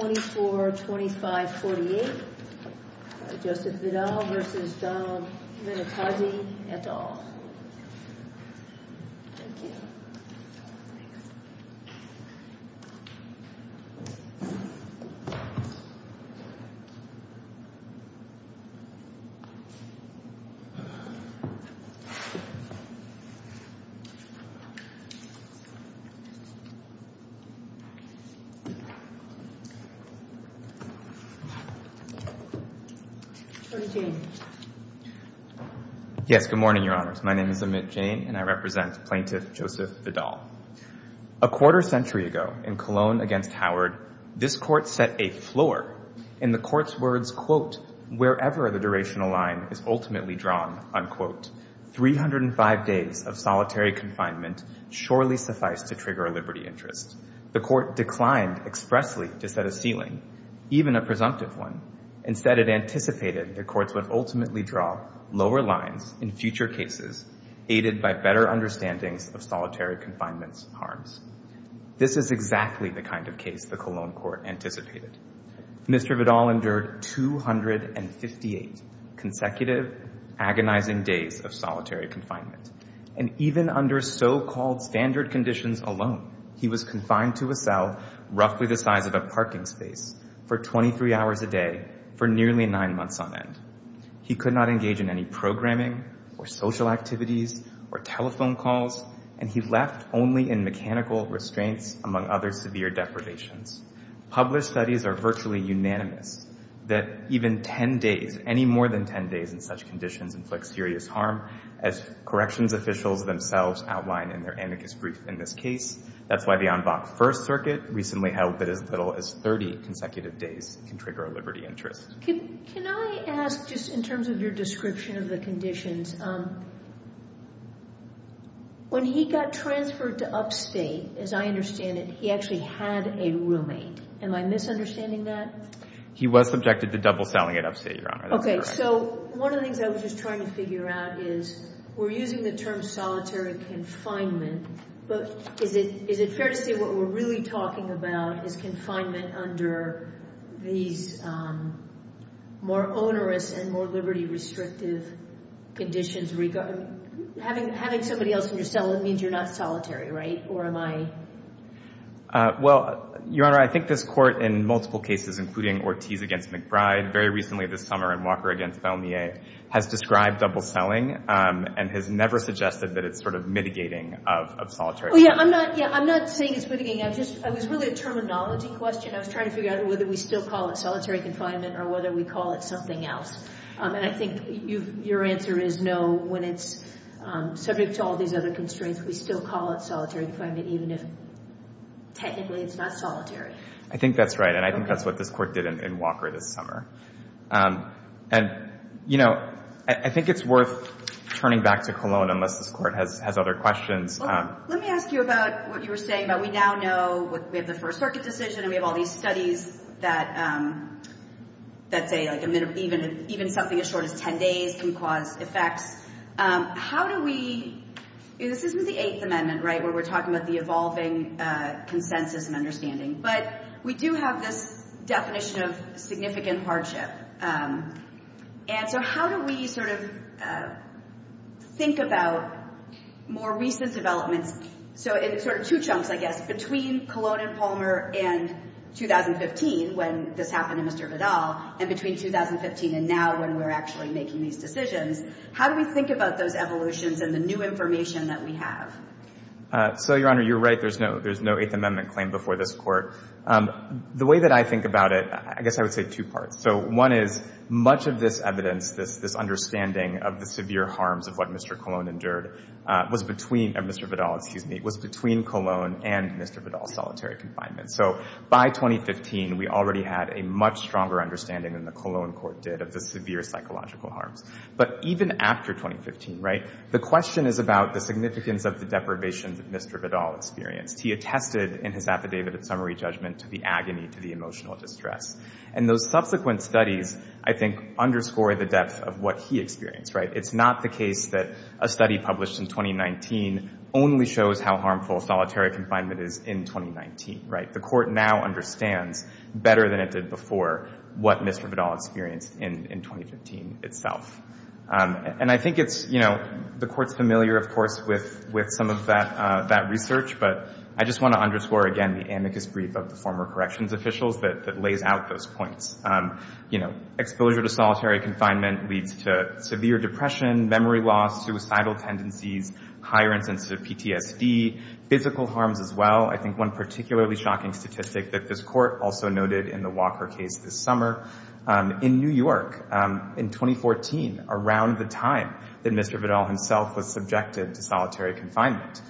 24-25-48 Joseph Vidal v. Donald Minetazzi, et al. A quarter-century ago, in Cologne against Howard, this Court set a floor. In the Court's words, quote, wherever the durational line is ultimately drawn, unquote, 305 days of solitary confinement surely suffice to trigger a liberty interest. The Court declined expressly to set a ceiling, even a presumptive one. Instead, it anticipated the Courts would ultimately draw lower lines in future cases aided by better understandings of solitary confinement's harms. This is exactly the kind of case the Cologne Court anticipated. Mr. Vidal endured 258 consecutive, agonizing days of solitary confinement. And even under so-called standard conditions alone, he was confined to a cell roughly the size of a parking space for 23 hours a day for nearly nine months on end. He could not engage in any programming or social activities or telephone calls, and he left only in mechanical restraints, among other severe deprivations. Published studies are virtually unanimous that even 10 days, any more than 10 days in such conditions, inflict serious harm, as corrections officials themselves outline in their amicus brief in this case. That's why the Envach I circuit recently held that as little as 30 consecutive days can trigger a liberty interest. Can I ask, just in terms of your description of the conditions, when he got transferred to upstate, as I understand it, he actually had a roommate. Am I misunderstanding that? He was subjected to double celling at upstate, Your Honor. Okay. So one of the things I was just trying to figure out is, we're using the term solitary confinement, but is it fair to say what we're really talking about is confinement under these more onerous and more liberty-restrictive conditions? I mean, having somebody else in your cell, it means you're not solitary, right? Or am I? Well, Your Honor, I think this Court in multiple cases, including Ortiz v. McBride, very recently this summer in Walker v. Vellmier, has described double celling and has never suggested that it's sort of mitigating of solitary confinement. Oh, yeah. I'm not saying it's mitigating. It was really a terminology question. I was trying to figure out whether we still call it solitary confinement or whether we call it something else. And I think your answer is no, when it's subject to all these other constraints, we still call it solitary confinement, even if technically it's not solitary. I think that's right. And I think that's what this Court did in Walker this summer. And, you know, I think it's worth turning back to Colon, unless this Court has other questions. Well, let me ask you about what you were saying about we now know we have the First Circuit decision and we have all these studies that say even something as short as 10 days can cause effects. How do we—this is with the Eighth Amendment, right, where we're talking about the evolving consensus and understanding. But we do have this definition of significant hardship. And so how do we sort of think about more recent developments? So in sort of two chunks, I guess, between Colon and Palmer in 2015, when this happened in Mr. Vidal, and between 2015 and now when we're actually making these decisions, how do we think about those evolutions and the new information that we have? So, Your Honor, you're right. There's no Eighth Amendment claim before this Court. The way that I think about it, I guess I would say two parts. So one is, much of this evidence, this understanding of the severe harms of what Mr. Colon endured, was between—Mr. Vidal, excuse me—was between Colon and Mr. Vidal's solitary confinement. So by 2015, we already had a much stronger understanding than the Colon Court did of the severe psychological harms. But even after 2015, right, the question is about the significance of the deprivation that Mr. Vidal experienced. He attested in his affidavit at summary judgment to the agony, to the emotional distress. And those subsequent studies, I think, underscore the depth of what he experienced, right? It's not the case that a study published in 2019 only shows how harmful solitary confinement is in 2019, right? The Court now understands better than before what Mr. Vidal experienced in 2015 itself. And I think it's, you know, the Court's familiar, of course, with some of that research. But I just want to underscore again the amicus brief of the former corrections officials that lays out those points. You know, exposure to solitary confinement leads to severe depression, memory loss, suicidal tendencies, higher and sensitive PTSD, physical harms as well. I think one particularly shocking statistic that this also noted in the Walker case this summer. In New York, in 2014, around the time that Mr. Vidal himself was subjected to solitary confinement,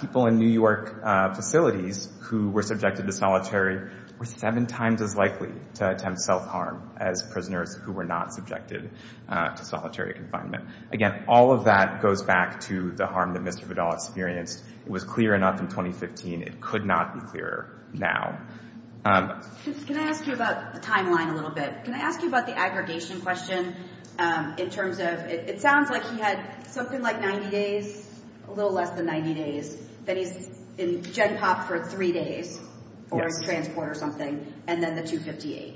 people in New York facilities who were subjected to solitary were seven times as likely to attempt self-harm as prisoners who were not subjected to solitary confinement. Again, all of that goes back to the harm that Mr. Vidal experienced. It was clear enough in 2015. It could not be clearer now. Can I ask you about the timeline a little bit? Can I ask you about the aggregation question in terms of, it sounds like he had something like 90 days, a little less than 90 days, that he's in gen pop for three days during transport or something, and then the 258.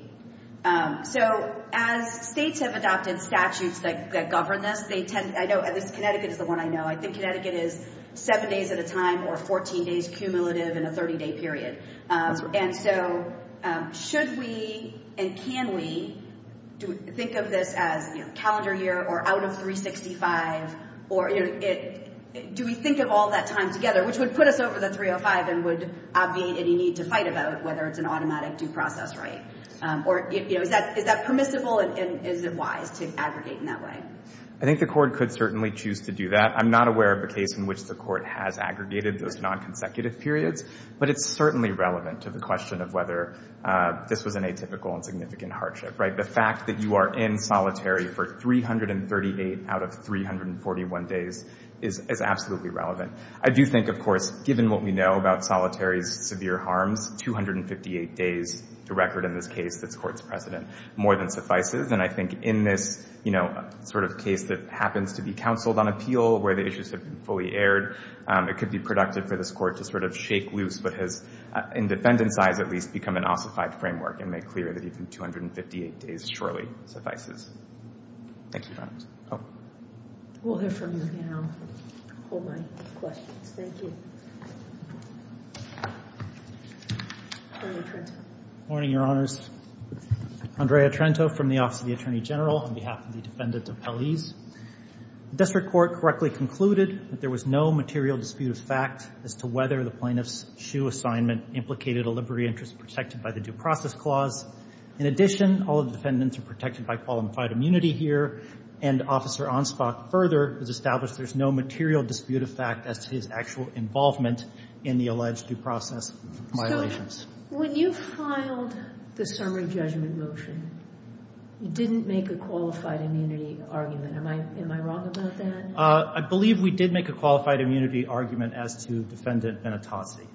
So as states have adopted statutes that govern this, they tend, I know at least Connecticut is the one I know, I think Connecticut is seven days at a time or 14 days cumulative in a 30-day period. And so should we and can we think of this as calendar year or out of 365 or do we think of all that time together, which would put us over the 305 and would obviate any need to fight about whether it's an automatic due process, right? Or is that permissible and is it wise to aggregate in that way? I think the court could certainly choose to do that. I'm not aware of a case in which the court has aggregated those non-consecutive periods, but it's certainly relevant to the question of whether this was an atypical and significant hardship, right? The fact that you are in solitary for 338 out of 341 days is absolutely relevant. I do think, of course, given what we know about solitary's severe harms, 258 days to record in this case that's precedent more than suffices. And I think in this sort of case that happens to be counseled on appeal where the issues have been fully aired, it could be productive for this court to sort of shake loose what has, in defendant size at least, become an ossified framework and make clear that even 258 days surely suffices. Thank you, Your Honor. We'll hear from you now. I'll hold my Andrea Trento from the Office of the Attorney General on behalf of the defendant of Pelley's. The district court correctly concluded that there was no material dispute of fact as to whether the plaintiff's SHU assignment implicated a liberary interest protected by the due process clause. In addition, all of the defendants are protected by qualified immunity here, and Officer Ansbach further has established there's no material dispute of fact as to his actual involvement in the alleged due process violations. When you filed the summary judgment motion, you didn't make a qualified immunity argument. Am I wrong about that? I believe we did make a qualified immunity argument as to Defendant Benitazzi.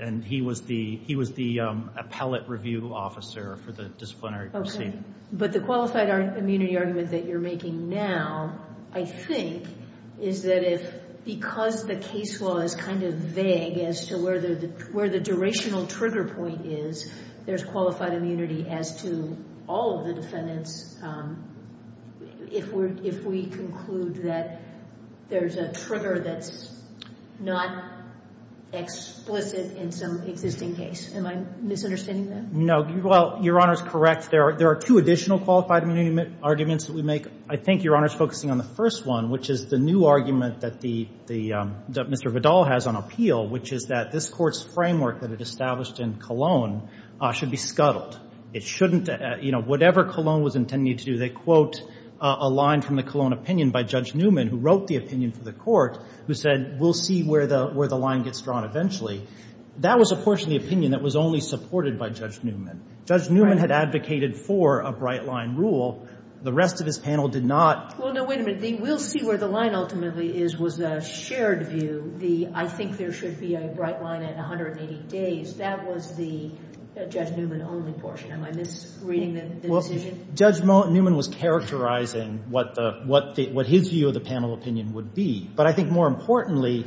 And he was the appellate review officer for the disciplinary proceeding. But the qualified immunity argument that you're making now, I think, is that if, because the case law is kind of vague as to where the durational trigger point is, there's qualified immunity as to all of the defendants if we conclude that there's a trigger that's not explicit in some existing case. Am I misunderstanding that? No. Well, Your Honor is correct. There are two additional qualified immunity arguments that we make. I think Your Honor is focusing on the first one, which is the new argument that Mr. Vidal has on appeal, which is that this Court's framework that it established in Cologne should be scuttled. It shouldn't, you know, whatever Cologne was intending to do, they quote a line from the Cologne opinion by Judge Newman, who wrote the opinion for the Court, who said we'll see where the line gets drawn eventually. That was a portion of the opinion that was only supported by Judge Newman. Judge Newman had advocated for a bright line rule. The rest of this panel did not. Well, no, wait a minute. The we'll see where the line ultimately is was a shared view. I think there should be a bright line at 180 days. That was the Judge Newman-only portion. Am I misreading the decision? Judge Newman was characterizing what his view of the panel opinion would be, but I think more importantly,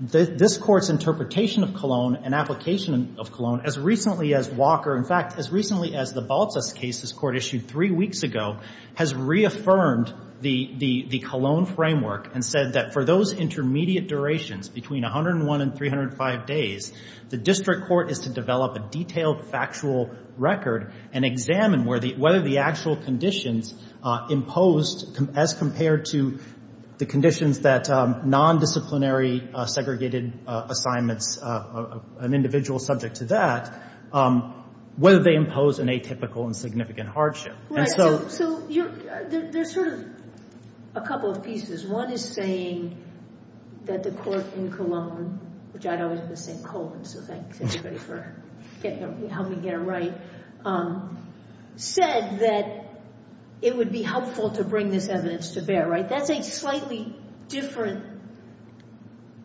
this Court's interpretation of Cologne and application of Cologne, as recently as Walker, in fact, as recently as the Baltus case this Court issued three weeks ago, has reaffirmed the Cologne framework and said that for those intermediate durations between 101 and 305 days, the district court is to develop a detailed factual record and examine whether the actual conditions imposed as compared to the conditions that nondisciplinary segregated assignments, an individual subject to that, whether they impose an atypical and significant hardship. So there's sort of a couple of pieces. One is saying that the Court in Cologne, which I'd always been saying Cologne, so thanks everybody for helping me get it right, said that it would be helpful to bring this evidence to bear, right? That's a slightly different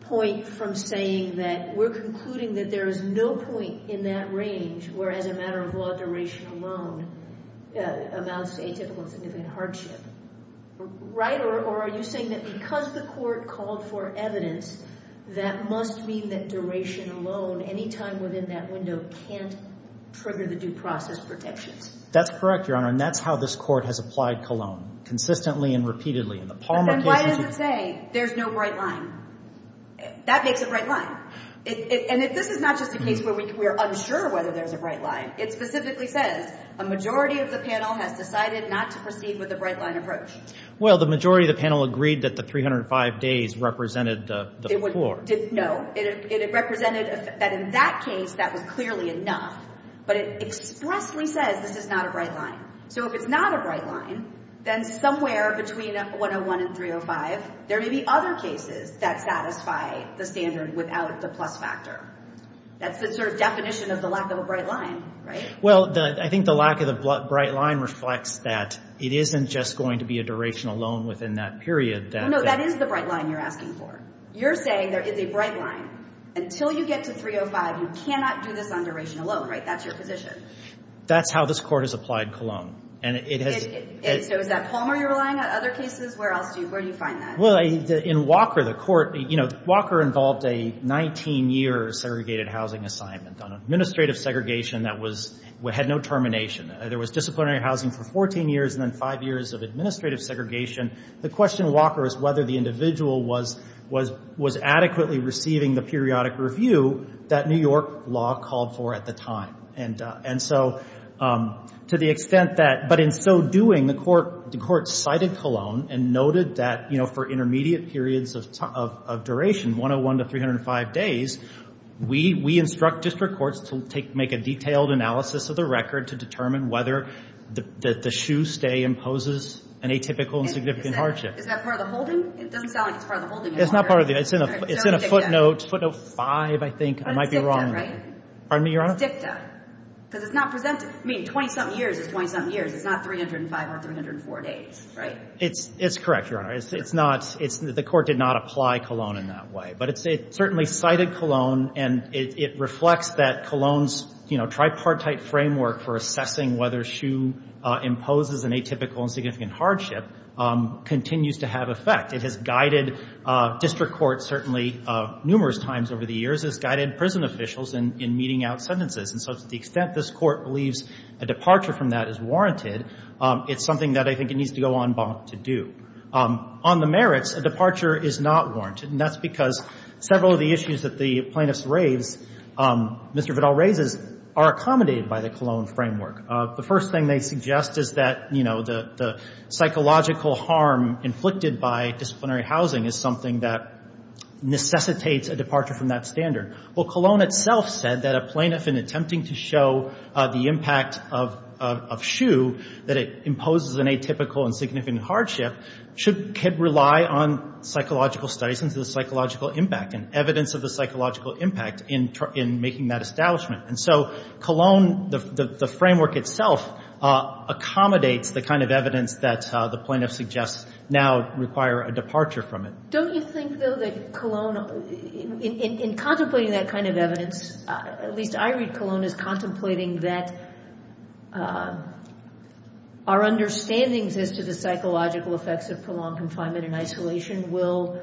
point from saying that we're concluding that there is no point in that range where, as a matter of law, duration alone amounts to atypical and significant hardship, right? Or are you saying that because the Court called for evidence, that must mean that duration alone, any time within that window, can't trigger the due process protections? That's correct, Your Honor, and that's how this Court has applied Cologne, consistently and repeatedly. And why does it say there's no bright line? That makes it a bright line. And this is not just a case where we're unsure whether there's a bright line. It specifically says, a majority of the panel has decided not to proceed with a bright line approach. Well, the majority of the panel agreed that the 305 days represented the floor. No, it represented that in that case, that was clearly enough, but it expressly says this is not a bright line. So if it's not a bright line, then somewhere between 101 and 305, there may be other cases that satisfy the standard without the plus factor. That's the sort of definition of the lack of a bright line, right? Well, I think the lack of the bright line reflects that it isn't just going to be a duration alone within that period. No, that is the bright line you're asking for. You're saying there is a bright line. Until you get to 305, you cannot do this on duration alone, right? That's your position. That's how this Court has applied Cologne. And so is that Palmer you're relying on in other cases? Where else do you find that? In Walker, the Court, Walker involved a 19-year segregated housing assignment on administrative segregation that had no termination. There was disciplinary housing for 14 years and then five years of administrative segregation. The question in Walker is whether the individual was adequately receiving the periodic review that New York law called for at the time. And so to the extent that, but in so doing, the Court cited Cologne and noted that, you know, for intermediate periods of duration, 101 to 305 days, we instruct district courts to take, make a detailed analysis of the record to determine whether the shoe stay imposes an atypical and significant hardship. Is that part of the holding? It doesn't sound like it's part of the holding. It's not part of the, it's in a footnote, footnote five, I think. I might be wrong. But it's dicta, right? Pardon me, Your Honor? It's dicta. Because it's not presented. I mean, 20-something years is 20-something years. It's not 305 or 304 days, right? It's correct, Your Honor. It's not, it's, the Court did not apply Cologne in that way. But it certainly cited Cologne and it reflects that Cologne's, you know, tripartite framework for assessing whether shoe imposes an atypical and significant hardship continues to have effect. It has guided district courts, certainly numerous times over the years, has guided prison officials in meeting out sentences. And so to the extent this Court believes a departure from that is warranted, it's something that I think it needs to go on bonk to do. On the merits, a departure is not warranted. And that's because several of the issues that the plaintiffs raise, Mr. Vidal raises, are accommodated by the Cologne framework. The first thing they suggest is that, you know, the psychological harm inflicted by disciplinary housing is something that necessitates a departure from that standard. Well, Cologne itself said that a plaintiff in attempting to show the impact of shoe, that it imposes an atypical and significant hardship, should rely on psychological studies into the psychological impact and evidence of the psychological impact in making that establishment. And so Cologne, the framework itself, accommodates the kind of evidence that the plaintiff suggests now require a departure from it. Don't you think, though, that Cologne, in contemplating that kind of evidence, at least I read Cologne as contemplating that our understandings as to the psychological effects of prolonged confinement and isolation will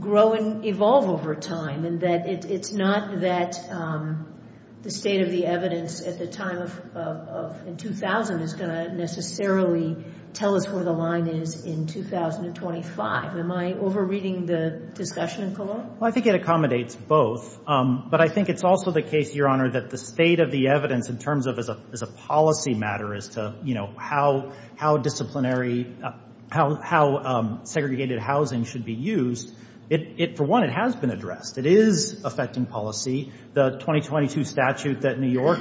grow and evolve over time, and that it's not that the state of the evidence at the time of 2000 is going to necessarily tell us where the line is in 2025? Am I overreading the discussion in Cologne? Well, I think it accommodates both. But I think it's also the case, Your Honor, that the state of the evidence in terms of as a policy matter as to, you know, how disciplinary, how segregated housing should be used, for one, it has been addressed. It is affecting policy. The 2022 statute that New York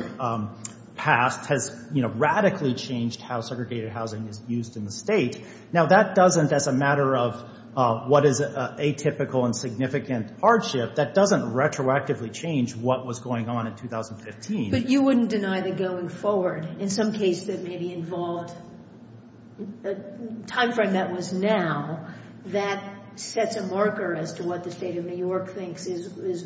passed has, you know, radically changed how segregated housing is used in the state. Now, that doesn't, as a matter of what is atypical and significant hardship, that doesn't retroactively change what was going on in 2015. But you wouldn't deny that going forward, in some case that maybe involved a timeframe that was now, that sets a marker as to what the state of New York thinks is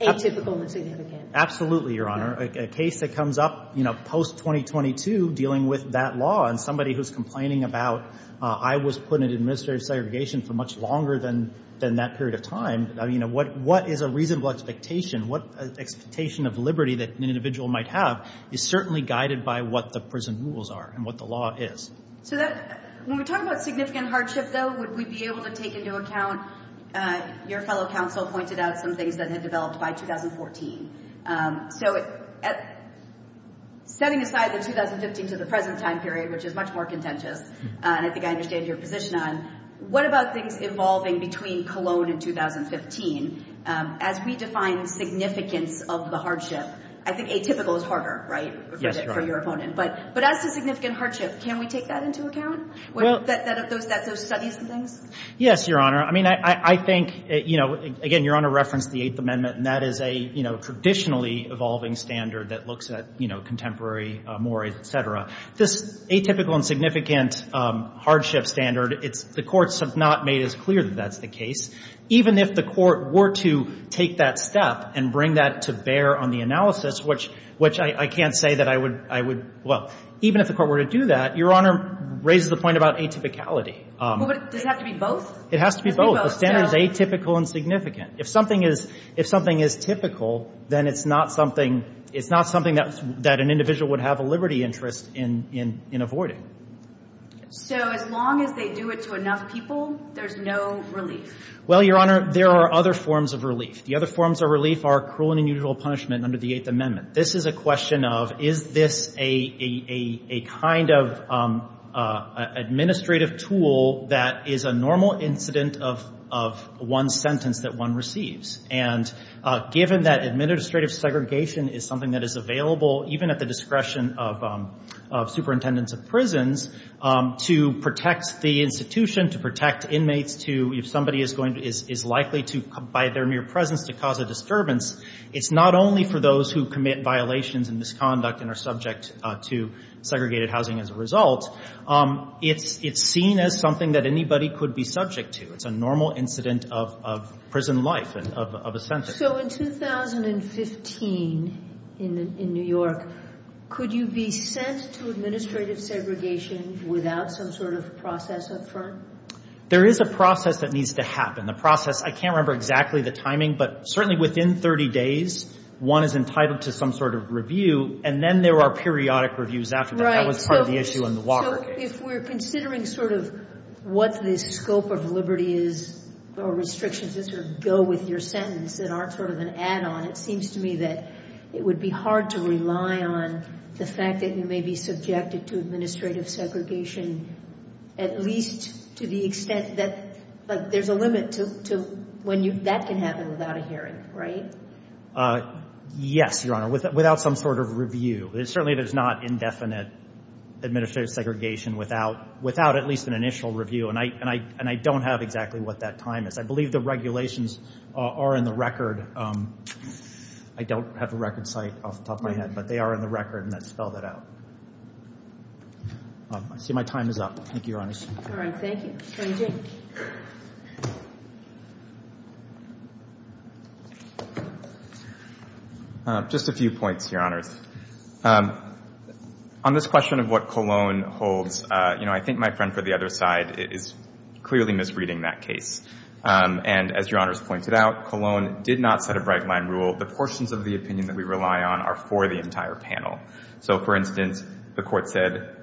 atypical and significant. Absolutely, Your Honor. A case that comes up, you know, post-2022, dealing with that law, and somebody who's complaining about, I was put into administrative segregation for much longer than that period of time. I mean, what is a reasonable expectation? What expectation of liberty that an individual might have is certainly guided by what the prison rules are and what the law is. So that, when we talk about significant hardship, though, we'd be able to take into account, your fellow counsel pointed out some things that had developed by 2014. So, setting aside the 2015 to the present time period, which is much more contentious, and I think I understand your position on, what about things involving between Cologne and 2015? As we define the significance of the hardship, I think atypical is harder, right? Yes, Your Honor. For your opponent. But as to significant hardship, can we take that into Yes, Your Honor. I mean, I think, you know, again, Your Honor referenced the Eighth Amendment, and that is a, you know, traditionally evolving standard that looks at, you know, contemporary mores, et cetera. This atypical and significant hardship standard, it's the courts have not made as clear that that's the case. Even if the court were to take that step and bring that to bear on the analysis, which I can't say that I would, well, even if the court were to do that, Your Honor raises the point about atypicality. Does it have to be both? It has to be both. The standard is atypical and significant. If something is typical, then it's not something that an individual would have a liberty interest in avoiding. So, as long as they do it to enough people, there's no relief? Well, Your Honor, there are other forms of relief. The other forms of relief are cruel and unusual punishment under the Eighth Amendment. This is a question of, is this a kind of that is a normal incident of one sentence that one receives? And given that administrative segregation is something that is available, even at the discretion of superintendents of prisons, to protect the institution, to protect inmates, to, if somebody is likely to, by their mere presence, to cause a disturbance, it's not only for those who commit violations and misconduct and are could be subject to. It's a normal incident of prison life, of a sentence. So, in 2015, in New York, could you be sent to administrative segregation without some sort of process up front? There is a process that needs to happen. The process, I can't remember exactly the timing, but certainly within 30 days, one is entitled to some sort of review, and then there are periodic reviews after that. That was part of the issue in the Watergate. If we're considering sort of what the scope of liberty is or restrictions that sort of go with your sentence that aren't sort of an add-on, it seems to me that it would be hard to rely on the fact that you may be subjected to administrative segregation, at least to the extent that there's a limit to when that can happen without a hearing, right? Yes, Your Honor, without some sort of review. Certainly, there's not indefinite administrative segregation without at least an initial review, and I don't have exactly what that time is. I believe the regulations are in the record. I don't have the record site off the top of my head, but they are in the record, and I'd spell that out. See, my time is up. Thank you, Your Honors. All right. Thank you. Just a few points, Your Honors. On this question of what Cologne holds, you know, I think my friend for the other side is clearly misreading that case, and as Your Honors pointed out, Cologne did not set a bright-line rule. The portions of the opinion that we rely on are for the entire panel. So, for instance, the Court said,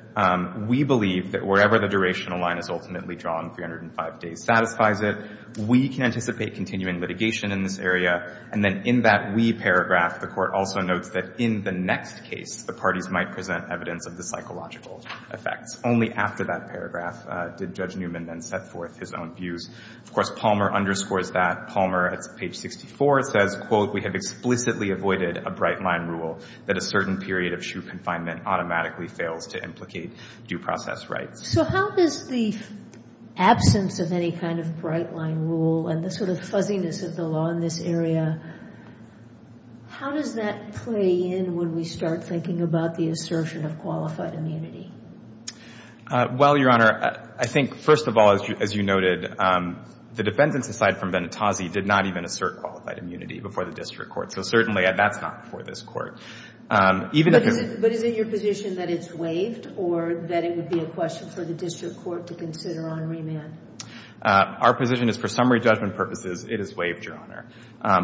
we believe that wherever the durational line is ultimately drawn, 305 days satisfies it. We can anticipate continuing litigation in this area, and then in that we paragraph, the Court also notes that in the next case, the parties might present evidence of the psychological effects. Only after that paragraph did Judge Newman then set forth his own views. Of course, Palmer underscores that. Palmer, at page 64, says, quote, we have explicitly avoided a bright-line rule that a certain period of shoe confinement automatically fails to implicate due process rights. So how does the absence of any kind of bright-line rule and the sort of fuzziness of the law in this area, how does that play in when we start thinking about the assertion of qualified immunity? Well, Your Honor, I think, first of all, as you noted, the defendants aside from Benitazzi did not even assert qualified immunity before the District Court. So certainly that's not before this Court. Even if it's— But is it your position that it's waived or that it would be a question for the District Court to consider on remand? Our position is for summary judgment purposes, it is waived, Your Honor.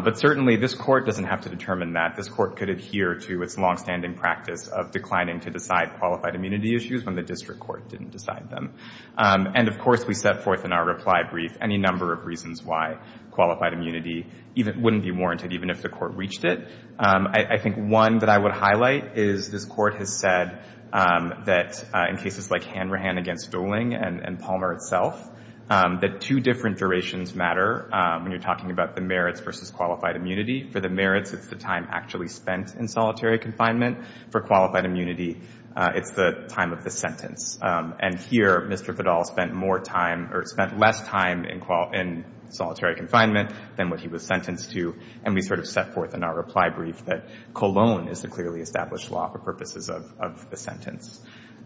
But certainly this Court doesn't have to determine that. This Court could adhere to its long-standing practice of declining to decide qualified immunity issues when the District Court didn't decide them. And of course we set forth in our reply brief any number of reasons why qualified immunity wouldn't be warranted even if the Court reached it. I think one that I would highlight is this Court has said that in cases like Hanrahan against Dooling and Palmer itself, that two different durations matter when you're talking about the merits versus qualified immunity. For the merits, it's the time actually spent in solitary confinement. For qualified immunity, it's the time of the sentence. And here, Mr. Fadal spent more time or spent less time in solitary confinement than what he was sentenced to. And we sort of set forth in our reply brief that Cologne is the clearly established law for purposes of the sentence.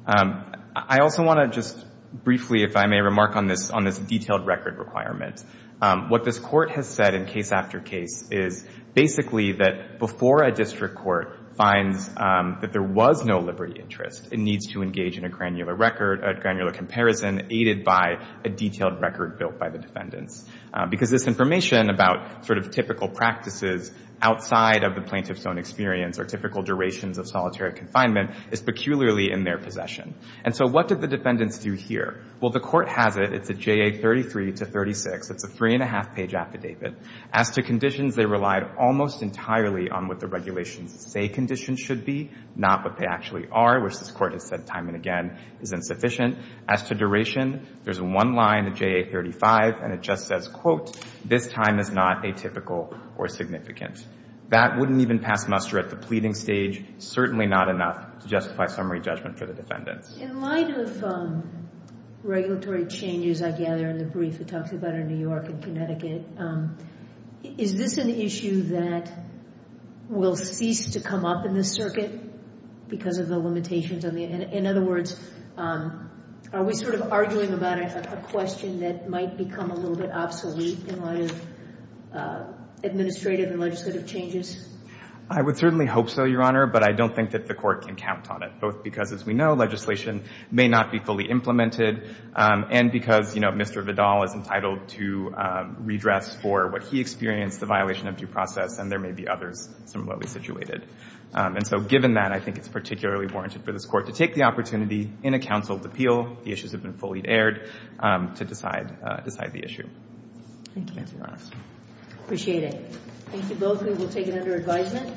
I also want to just briefly, if I may, remark on this detailed record requirement. What this Court has said in case after case is basically that before a District Court finds that there was no liberty interest, it needs to engage in a granular record, a granular comparison, aided by a detailed record built by the defendants. Because this information about sort of typical practices outside of the plaintiff's own experience or typical durations of solitary confinement is peculiarly in their possession. And so what did the defendants do here? Well, the Court has it. It's a J.A. 33 to 36. It's a three-and-a-half-page affidavit. As to conditions, they relied almost entirely on what the regulations say conditions should be, not what they actually are, which this Court has said time and again is insufficient. As to duration, there's one line, the J.A. 35, and it just says, quote, this time is not atypical or significant. That wouldn't even pass muster at the pleading stage, certainly not enough to justify summary judgment for the defendants. In light of regulatory changes, I gather, in the brief it talks about in New York and Connecticut, is this an issue that will cease to come up in the circuit because of the limitations? In other words, are we sort of arguing about a question that might become a little bit obsolete in light of administrative and legislative changes? I would certainly hope so, Your Honor, but I don't think that the Court can count on it, both because, as we know, legislation may not be fully implemented and because, you know, Mr. Vidal is entitled to redress for what he experienced, the violation of due process, and there may be others similarly situated. And so given that, I think it's particularly warranted for this Court to take the opportunity in a counseled appeal, the issues have been fully aired, to decide the issue. Thank you. Thank you, Your Honor. Appreciate it. Thank you both. We will take it under advisement.